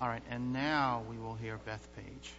All right, and now we will hear Bethpage.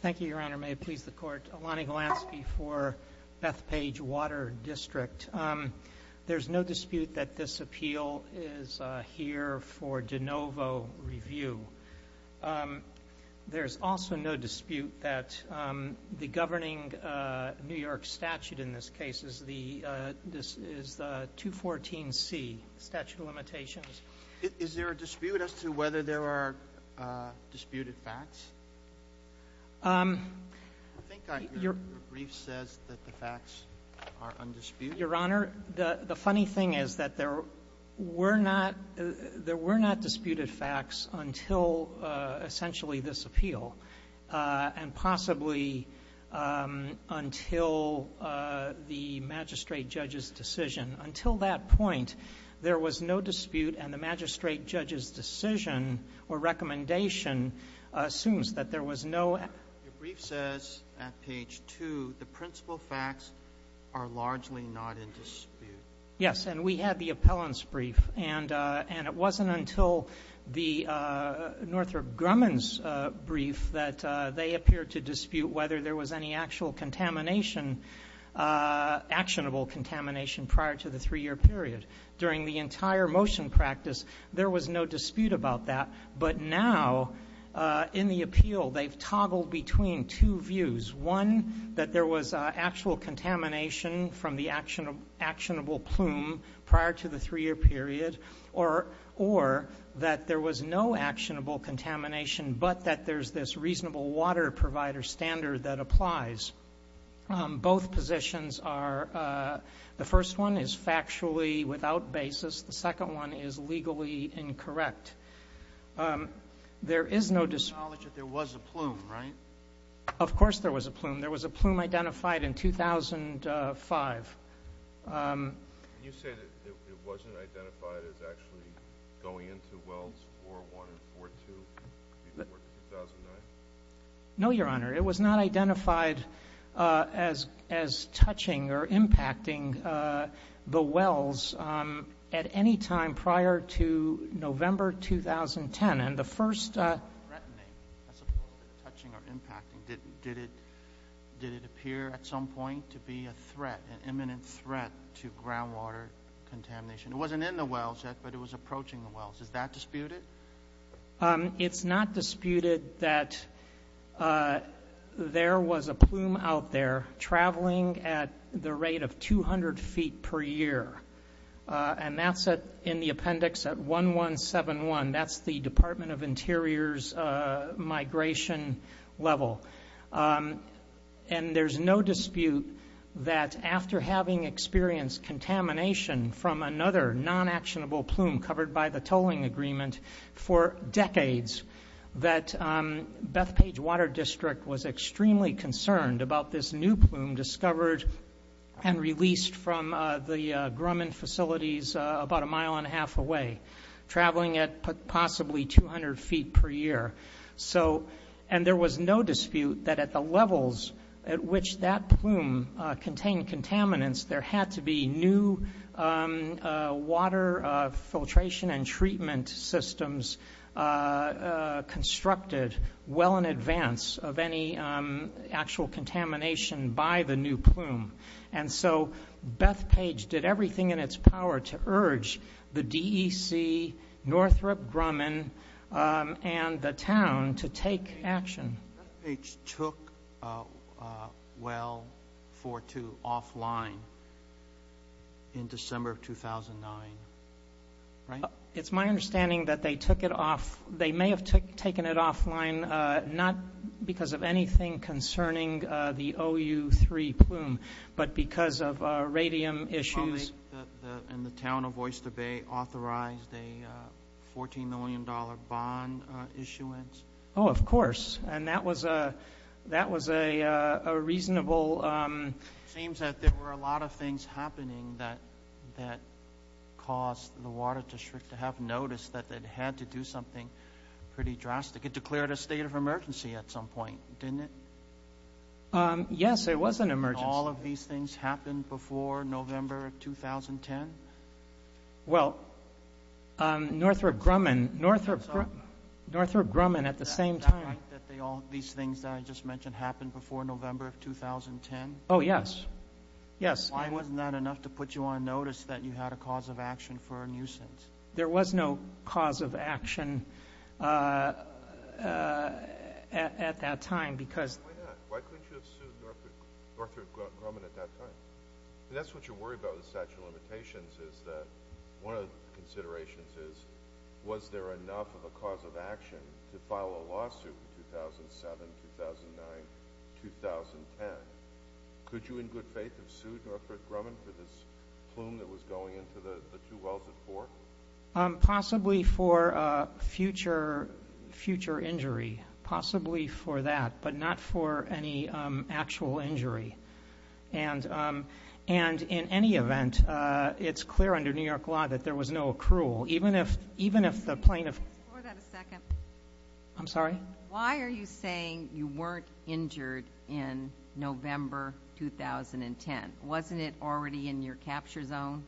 Thank you, Your Honor. May it please the Court, Alani Gilansky for Bethpage Water District. There is no dispute that this appeal is here for de novo review. There is also no dispute that the governing New York statute in this case is 214C, statute of limitations. Is there a dispute as to whether there are disputed facts? I think I hear that the brief says that the facts are undisputed. Your Honor, the funny thing is that there were not disputed facts until essentially this appeal and possibly until the magistrate judge's decision. Until that point, there was no dispute, and the magistrate judge's decision or recommendation assumes that there was no ---- The brief says at page 2 the principal facts are largely not in dispute. Yes, and we had the appellant's brief, and it wasn't until the Northrop Grumman's brief that they appeared to dispute whether there was any actual contamination, actionable contamination prior to the three-year period. During the entire motion practice, there was no dispute about that, but now in the appeal they've toggled between two views, one that there was actual contamination from the actionable plume prior to the three-year period or that there was no actionable contamination but that there's this reasonable water provider standard that applies. Both positions are the first one is factually without basis. The second one is legally incorrect. There is no dispute. There was a plume, right? Of course there was a plume. There was a plume identified in 2005. Can you say that it wasn't identified as actually going into wells 4-1 and 4-2 before 2009? No, Your Honor. It was not identified as touching or impacting the wells at any time prior to November 2010, and the first ---- to groundwater contamination. It wasn't in the wells yet, but it was approaching the wells. Is that disputed? It's not disputed that there was a plume out there traveling at the rate of 200 feet per year, and that's in the appendix at 1171. That's the Department of Interior's migration level. And there's no dispute that after having experienced contamination from another non-actionable plume covered by the tolling agreement for decades that Bethpage Water District was extremely concerned about this new plume discovered and released from the Grumman facilities about a mile and a half away, traveling at possibly 200 feet per year. And there was no dispute that at the levels at which that plume contained contaminants, there had to be new water filtration and treatment systems constructed well in advance of any actual contamination by the new plume. And so Bethpage did everything in its power to urge the DEC, Northrop Grumman, and the town to take action. Bethpage took Well 42 offline in December of 2009, right? It's my understanding that they took it off. They may have taken it offline not because of anything concerning the OU3 plume, but because of radium issues. And the town of Oyster Bay authorized a $14 million bond issuance? Oh, of course. And that was a reasonable – It seems that there were a lot of things happening that caused the water district to have noticed that they'd had to do something pretty drastic. It declared a state of emergency at some point, didn't it? Yes, it was an emergency. And all of these things happened before November of 2010? Well, Northrop Grumman at the same time. These things that I just mentioned happened before November of 2010? Oh, yes. Yes. Why wasn't that enough to put you on notice that you had a cause of action for a nuisance? There was no cause of action at that time because – Why not? Why couldn't you have sued Northrop Grumman at that time? That's what you worry about with statute of limitations is that one of the considerations is, was there enough of a cause of action to file a lawsuit in 2007, 2009, 2010? Could you in good faith have sued Northrop Grumman for this plume that was going into the two wells at four? Possibly for future injury. Possibly for that, but not for any actual injury. And in any event, it's clear under New York law that there was no accrual. Even if the plaintiff – Can we just explore that a second? I'm sorry? Why are you saying you weren't injured in November 2010? Wasn't it already in your capture zone?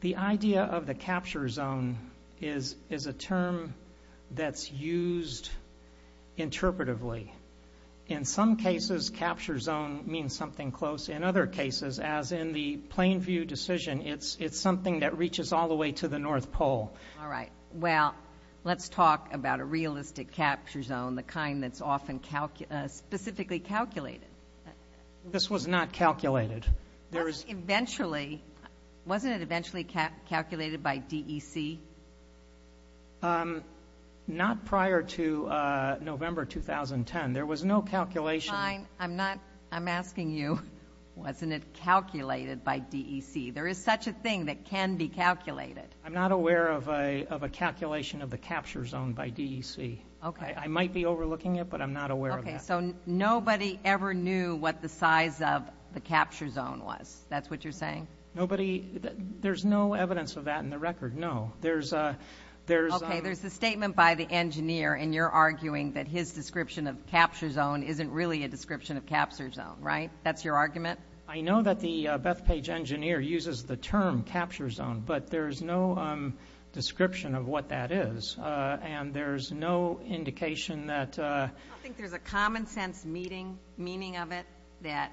The idea of the capture zone is a term that's used interpretively. In some cases, capture zone means something close. In other cases, as in the Plainview decision, it's something that reaches all the way to the North Pole. All right. Well, let's talk about a realistic capture zone, the kind that's often specifically calculated. This was not calculated. Wasn't it eventually calculated by DEC? Not prior to November 2010. There was no calculation. Fine. I'm asking you, wasn't it calculated by DEC? There is such a thing that can be calculated. I'm not aware of a calculation of the capture zone by DEC. Okay. I might be overlooking it, but I'm not aware of that. Okay. So nobody ever knew what the size of the capture zone was. That's what you're saying? Nobody – there's no evidence of that in the record, no. There's a – Okay. There's a statement by the engineer, and you're arguing that his description of capture zone isn't really a description of capture zone, right? That's your argument? I know that the Bethpage engineer uses the term capture zone, but there's no description of what that is. And there's no indication that – I think there's a common sense meaning of it that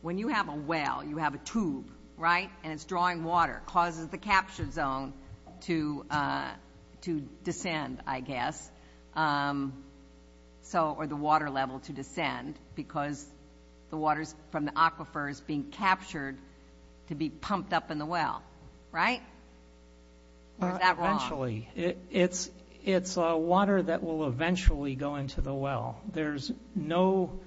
when you have a well, you have a tube, right, and it's drawing water, it causes the capture zone to descend, I guess, or the water level to descend because the water from the aquifer is being captured to be pumped up in the well, right? Or is that wrong? Eventually. It's water that will eventually go into the well. There's no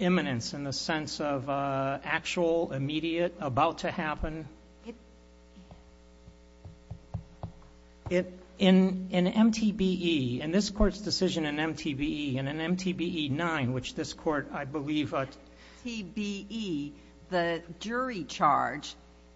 imminence in the sense of actual, immediate, about to happen. In MTBE, in this Court's decision in MTBE, and in MTBE-9, which this Court, I believe – In MTBE, the jury charge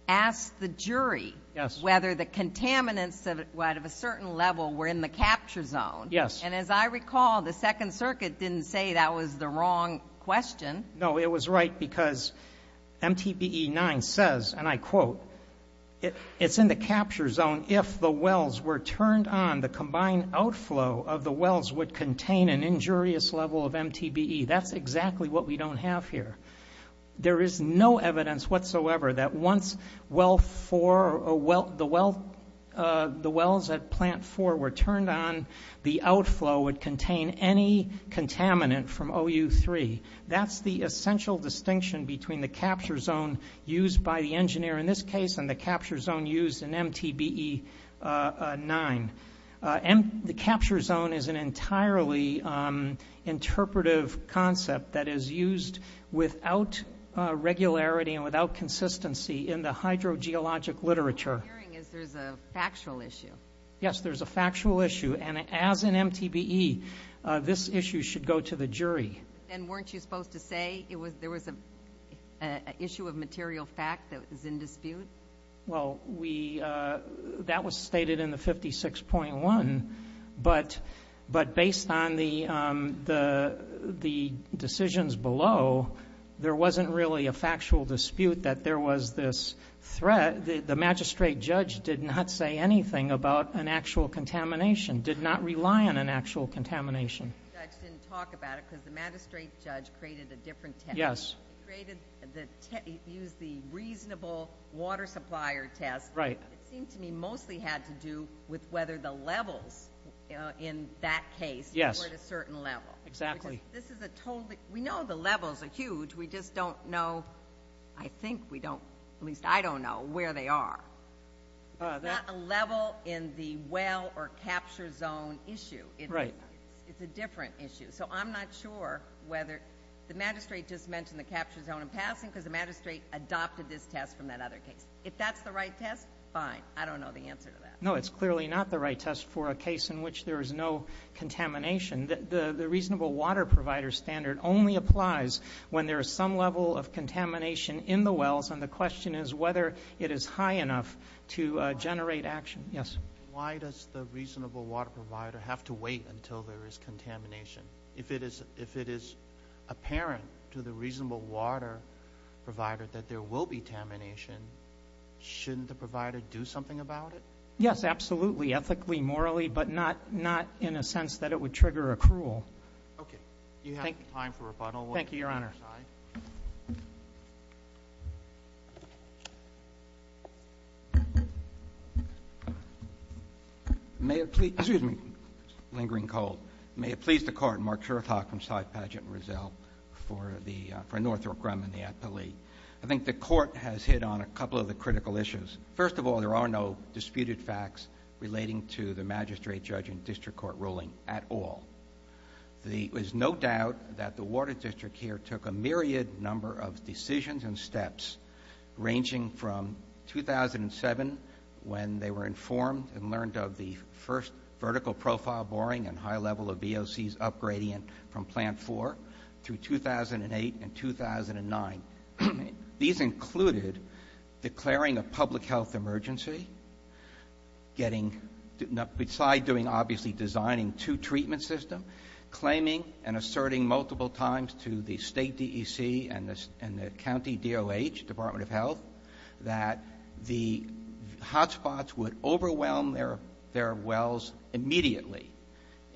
asked the jury whether the contaminants of a certain level were in the capture zone. Yes. And as I recall, the Second Circuit didn't say that was the wrong question. No, it was right because MTBE-9 says, and I quote, it's in the capture zone if the wells were turned on, the combined outflow of the wells would contain an injurious level of MTBE. That's exactly what we don't have here. There is no evidence whatsoever that once the wells at Plant 4 were turned on, the outflow would contain any contaminant from OU3. That's the essential distinction between the capture zone used by the engineer in this case and the capture zone used in MTBE-9. The capture zone is an entirely interpretive concept that is used without regularity and without consistency in the hydrogeologic literature. What I'm hearing is there's a factual issue. Yes, there's a factual issue, and as in MTBE, this issue should go to the jury. And weren't you supposed to say there was an issue of material fact that was in dispute? Well, that was stated in the 56.1, but based on the decisions below, there wasn't really a factual dispute that there was this threat. The magistrate judge did not say anything about an actual contamination, did not rely on an actual contamination. The magistrate judge didn't talk about it because the magistrate judge created a different test. He used the reasonable water supplier test. It seemed to me mostly had to do with whether the levels in that case were at a certain level. We know the levels are huge. We just don't know, I think we don't, at least I don't know where they are. It's not a level in the well or capture zone issue. It's a different issue. So I'm not sure whether the magistrate just mentioned the capture zone in passing because the magistrate adopted this test from that other case. If that's the right test, fine. I don't know the answer to that. No, it's clearly not the right test for a case in which there is no contamination. The reasonable water provider standard only applies when there is some level of contamination in the wells, and the question is whether it is high enough to generate action. Yes. Why does the reasonable water provider have to wait until there is contamination? If it is apparent to the reasonable water provider that there will be contamination, shouldn't the provider do something about it? Yes, absolutely, ethically, morally, but not in a sense that it would trigger accrual. Okay. Thank you, Your Honor. Your Honor. May it please the Court. Mark Shorthaw from Side Paget and Rizal for Northrop Grumman, the appellee. I think the Court has hit on a couple of the critical issues. First of all, there are no disputed facts relating to the magistrate, judge, and district court ruling at all. There is no doubt that the Water District here took a myriad number of decisions and steps, ranging from 2007 when they were informed and learned of the first vertical profile boring and high level of VOCs upgrading from Plant 4 through 2008 and 2009. These included declaring a public health emergency, besides obviously designing two treatment systems, claiming and asserting multiple times to the state DEC and the county DOH, Department of Health, that the hotspots would overwhelm their wells immediately.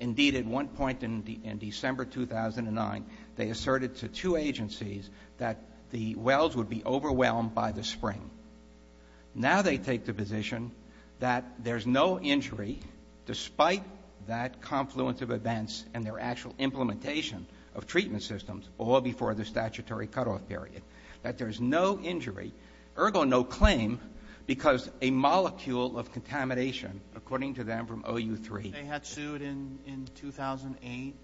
Indeed, at one point in December 2009, they asserted to two agencies that the wells would be overwhelmed by the spring. Now they take the position that there's no injury, despite that confluence of events and their actual implementation of treatment systems, all before the statutory cutoff period, that there's no injury, ergo no claim, because a molecule of contamination, according to them from OU3. If they had sued in 2008,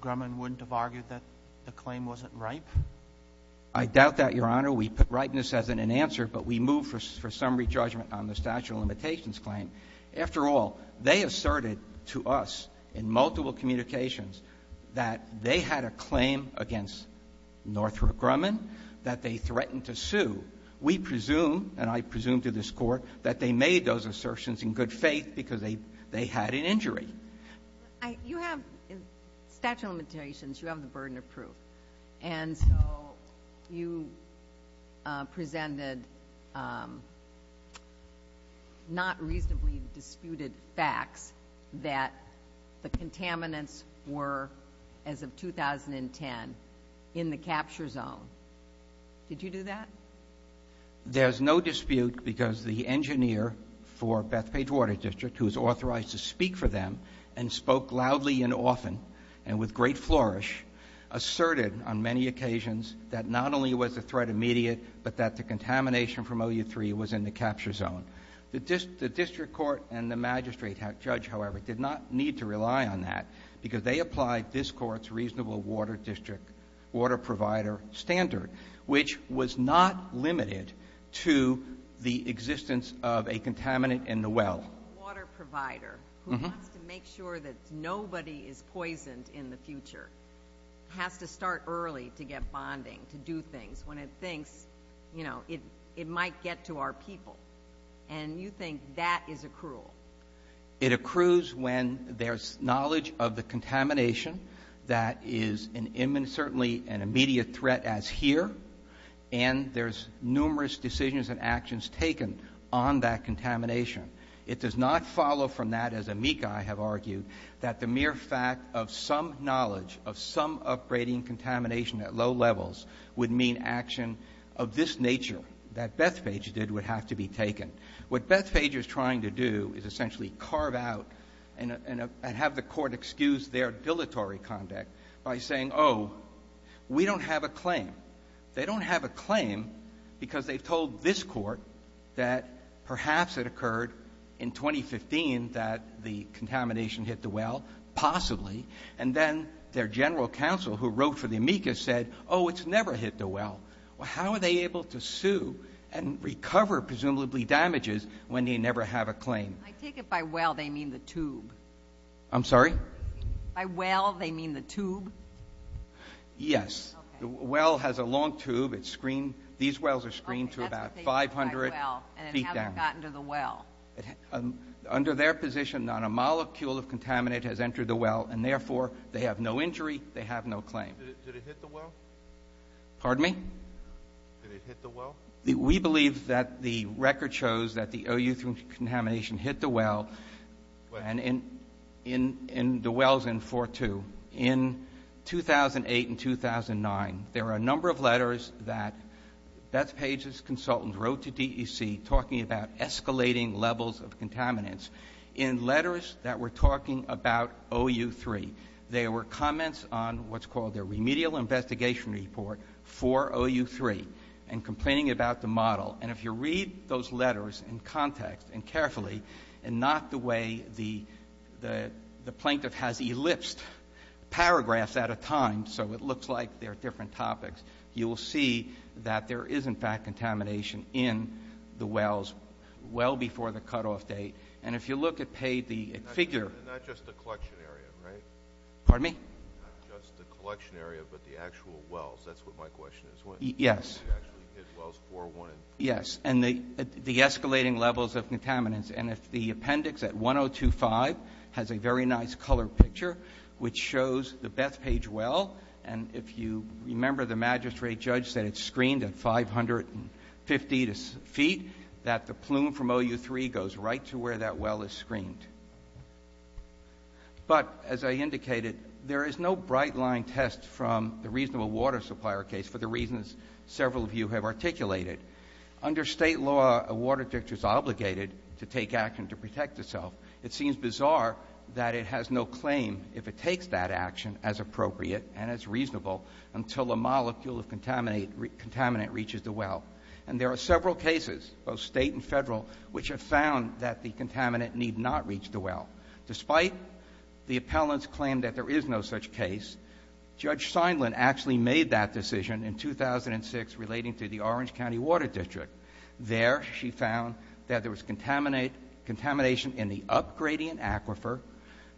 Grumman wouldn't have argued that the claim wasn't ripe? I doubt that, Your Honor. We put ripeness as an answer, but we move for summary judgment on the statute of limitations claim. After all, they asserted to us in multiple communications that they had a claim against Northrop Grumman, that they threatened to sue. We presume, and I presume to this Court, that they made those assertions in good faith because they had an injury. You have statute of limitations, you have the burden of proof. And so you presented not reasonably disputed facts that the contaminants were, as of 2010, in the capture zone. Did you do that? There's no dispute because the engineer for Bethpage Water District, who is authorized to speak for them and spoke loudly and often and with great flourish, asserted on many occasions that not only was the threat immediate, but that the contamination from OU3 was in the capture zone. The district court and the magistrate judge, however, did not need to rely on that because they applied this court's reasonable water district water provider standard, which was not limited to the existence of a contaminant in the well. A water provider who wants to make sure that nobody is poisoned in the future has to start early to get bonding, to do things, when it thinks, you know, it might get to our people. And you think that is accrual. It accrues when there's knowledge of the contamination that is certainly an immediate threat as here, and there's numerous decisions and actions taken on that contamination. It does not follow from that, as amici have argued, that the mere fact of some knowledge of some upgrading contamination at low levels would mean action of this nature, that Bethpage did, would have to be taken. What Bethpage is trying to do is essentially carve out and have the court excuse their dilatory conduct by saying, oh, we don't have a claim. They don't have a claim because they've told this court that perhaps it occurred in 2015 that the contamination hit the well, possibly, and then their general counsel, who wrote for the amicus, said, oh, it's never hit the well. Well, how are they able to sue and recover presumably damages when they never have a claim? I take it by well they mean the tube. I'm sorry? By well they mean the tube? Yes. Okay. The well has a long tube. It's screened. These wells are screened to about 500 feet down. And it hasn't gotten to the well. Under their position, not a molecule of contaminate has entered the well, and therefore, they have no injury. They have no claim. Did it hit the well? Pardon me? Did it hit the well? We believe that the record shows that the OU3 contamination hit the well, and the well is in 4.2. In 2008 and 2009, there were a number of letters that Beth Page's consultants wrote to DEC talking about escalating levels of contaminants in letters that were talking about OU3. There were comments on what's called their remedial investigation report for OU3 and complaining about the model. And if you read those letters in context and carefully and not the way the plaintiff has elipsed paragraphs at a time so it looks like they're different topics, you will see that there is, in fact, contamination in the wells well before the cutoff date. And if you look at Page's figure — Pardon me? Not just the collection area, but the actual wells. That's what my question is. Yes. Did it actually hit wells 4.1? Yes. And the escalating levels of contaminants. And if the appendix at 102.5 has a very nice color picture, which shows the Beth Page well, and if you remember the magistrate judge said it's screened at 550 feet, that the plume from OU3 goes right to where that well is screened. But, as I indicated, there is no bright-line test from the reasonable water supplier case for the reasons several of you have articulated. Under State law, a water dictator is obligated to take action to protect itself. It seems bizarre that it has no claim, if it takes that action, as appropriate and as reasonable until a molecule of contaminant reaches the well. And there are several cases, both state and federal, which have found that the contaminant need not reach the well. Despite the appellant's claim that there is no such case, Judge Seindlin actually made that decision in 2006 relating to the Orange County Water District. There she found that there was contamination in the up-gradient aquifer,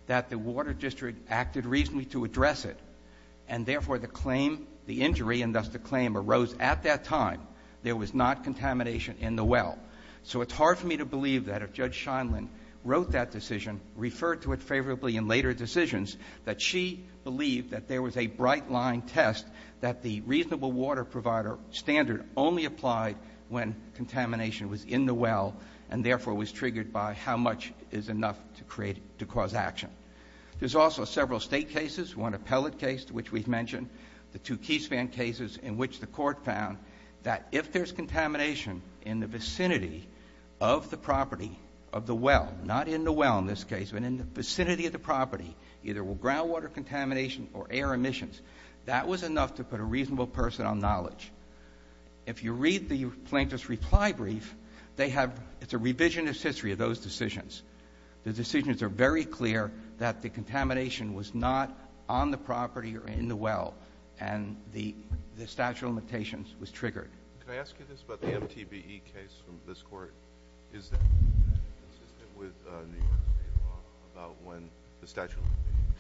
that the water district acted reasonably to address it, and, therefore, the claim, the injury, and thus the claim arose at that time. There was not contamination in the well. So it's hard for me to believe that if Judge Seindlin wrote that decision, referred to it favorably in later decisions, that she believed that there was a bright-line test that the reasonable water provider standard only applied when contamination was in the well and, therefore, was triggered by how much is enough to create, to cause action. There's also several state cases, one appellate case to which we've mentioned, the two key span cases in which the court found that if there's contamination in the vicinity of the property, of the well, not in the well in this case, but in the vicinity of the property, either with groundwater contamination or air emissions, that was enough to put a reasonable person on knowledge. If you read the plaintiff's reply brief, they have, it's a revisionist history of those decisions. The decisions are very clear that the contamination was not on the property or in the well and the statute of limitations was triggered. Can I ask you this about the MTBE case from this Court? Is that consistent with New York State law about when the statute of limitations?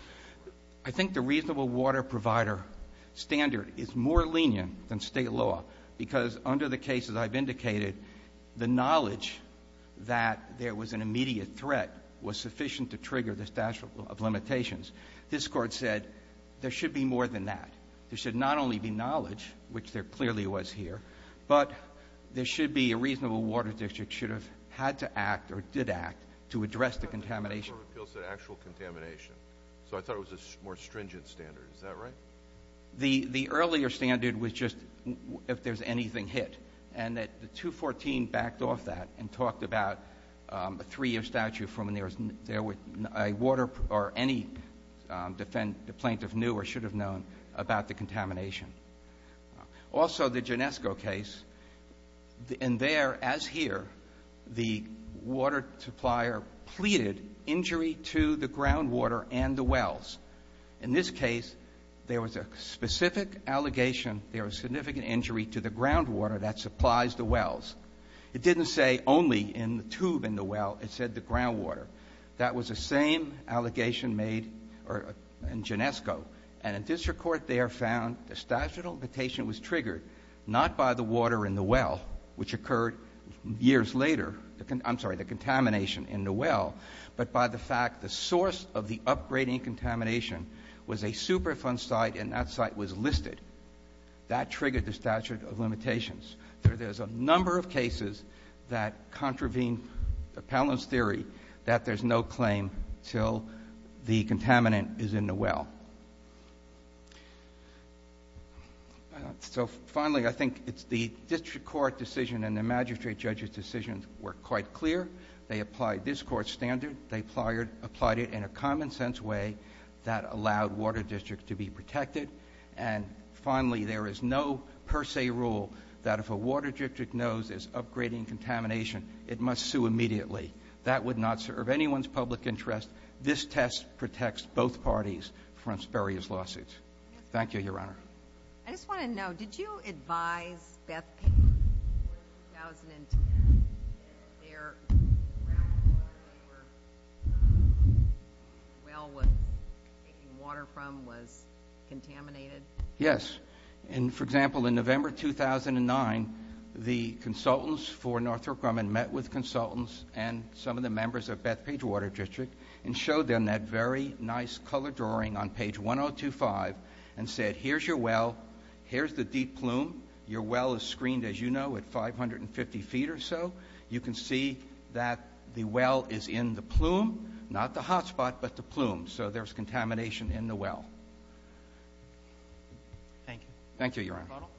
I think the reasonable water provider standard is more lenient than State law because under the cases I've indicated, the knowledge that there was an immediate threat was sufficient to trigger the statute of limitations. This Court said there should be more than that. There should not only be knowledge, which there clearly was here, but there should be a reasonable water district should have had to act or did act to address the contamination. The Court of Appeals said actual contamination. So I thought it was a more stringent standard. Is that right? The earlier standard was just if there's anything hit, and the 214 backed off that and talked about a three-year statute from when there was a water or any plaintiff knew or should have known about the contamination. Also, the Ginesco case, in there, as here, the water supplier pleaded injury to the groundwater and the wells. In this case, there was a specific allegation there was significant injury to the groundwater that supplies the wells. It didn't say only in the tube in the well. It said the groundwater. That was the same allegation made in Ginesco. And a district court there found the statute of limitation was triggered not by the water in the well, which occurred years later, I'm sorry, the contamination in the well, but by the fact the source of the upgrading contamination was a Superfund site, and that site was listed. That triggered the statute of limitations. There's a number of cases that contravene the Palin's theory that there's no claim until the contaminant is in the well. So finally, I think it's the district court decision and the magistrate judge's decisions were quite clear. They applied this court's standard. They applied it in a common-sense way that allowed Water District to be protected. And finally, there is no per se rule that if a Water District knows there's upgrading contamination, it must sue immediately. That would not serve anyone's public interest. This test protects both parties from spurious lawsuits. Thank you, Your Honor. I just want to know, did you advise Bethpage Water District in 2010 that their groundwater paper well was taking water from was contaminated? Yes. And, for example, in November 2009, the consultants for Northrop Grumman met with consultants and some of the members of Bethpage Water District and showed them that very nice color drawing on page 1025 and said, here's your well, here's the deep plume, your well is screened, as you know, at 550 feet or so. You can see that the well is in the plume, not the hot spot, but the plume. So there's contamination in the well. Thank you. Thank you, Your Honor. Mr. Bonnell.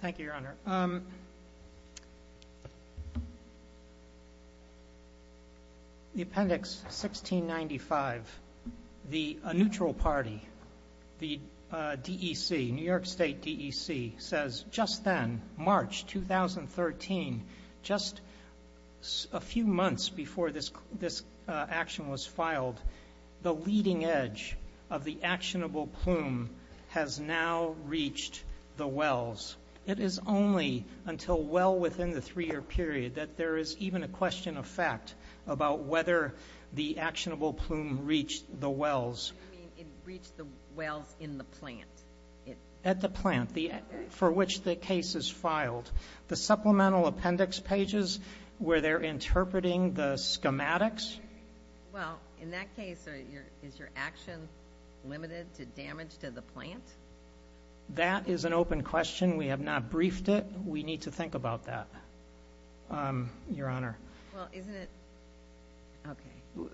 Thank you, Your Honor. The appendix 1695, the neutral party, the DEC, New York State DEC, says just then, March 2013, just a few months before this action was filed, the leading edge of the actionable plume has now reached the wells. It is only until well within the three-year period that there is even a question of fact about whether the actionable plume reached the wells. You mean it reached the wells in the plant? At the plant for which the case is filed. The supplemental appendix pages where they're interpreting the schematics? Well, in that case, is your action limited to damage to the plant? That is an open question. We have not briefed it. We need to think about that, Your Honor. Well, isn't it? Okay.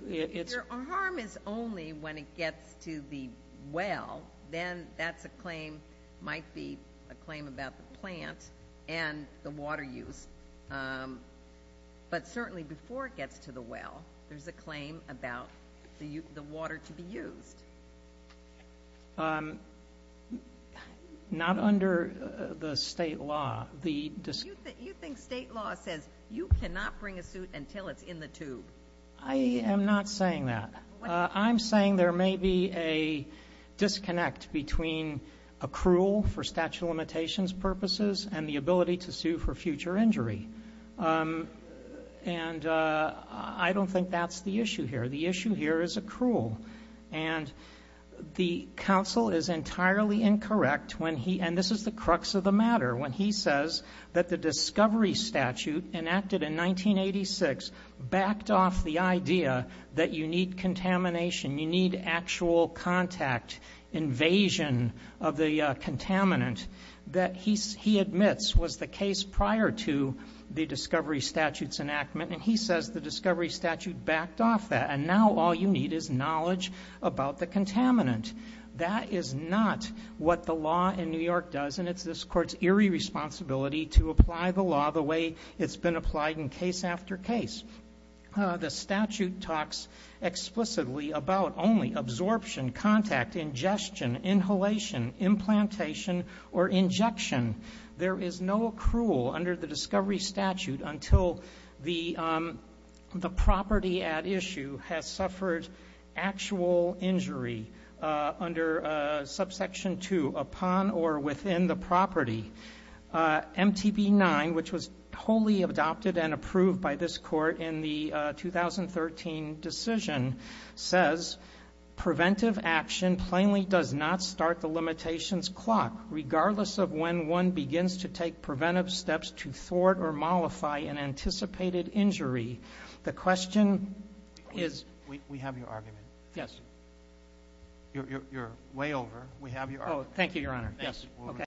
If the harm is only when it gets to the well, then that's a claim, might be a claim about the plant and the water use. But certainly before it gets to the well, there's a claim about the water to be used. Not under the state law. You think state law says you cannot bring a suit until it's in the tube? I am not saying that. I'm saying there may be a disconnect between accrual for statute of limitations purposes and the ability to sue for future injury. And I don't think that's the issue here. The issue here is accrual. And the counsel is entirely incorrect when he, and this is the crux of the matter, when he says that the discovery statute enacted in 1986 backed off the idea that you need contamination, you need actual contact, invasion of the contaminant, that he admits was the case prior to the discovery statute's enactment. And he says the discovery statute backed off that. And now all you need is knowledge about the contaminant. That is not what the law in New York does. And it's this court's eerie responsibility to apply the law the way it's been applied in case after case. The statute talks explicitly about only absorption, contact, ingestion, inhalation, implantation, or injection. There is no accrual under the discovery statute until the property at issue has suffered actual injury under subsection 2, upon or within the property. MTB 9, which was wholly adopted and approved by this court in the 2013 decision, says preventive action plainly does not start the limitations clock, regardless of when one begins to take preventive steps to thwart or mollify an anticipated injury. The question is... We have your argument. Yes. You're way over. We have your argument. Oh, thank you, Your Honor. Yes.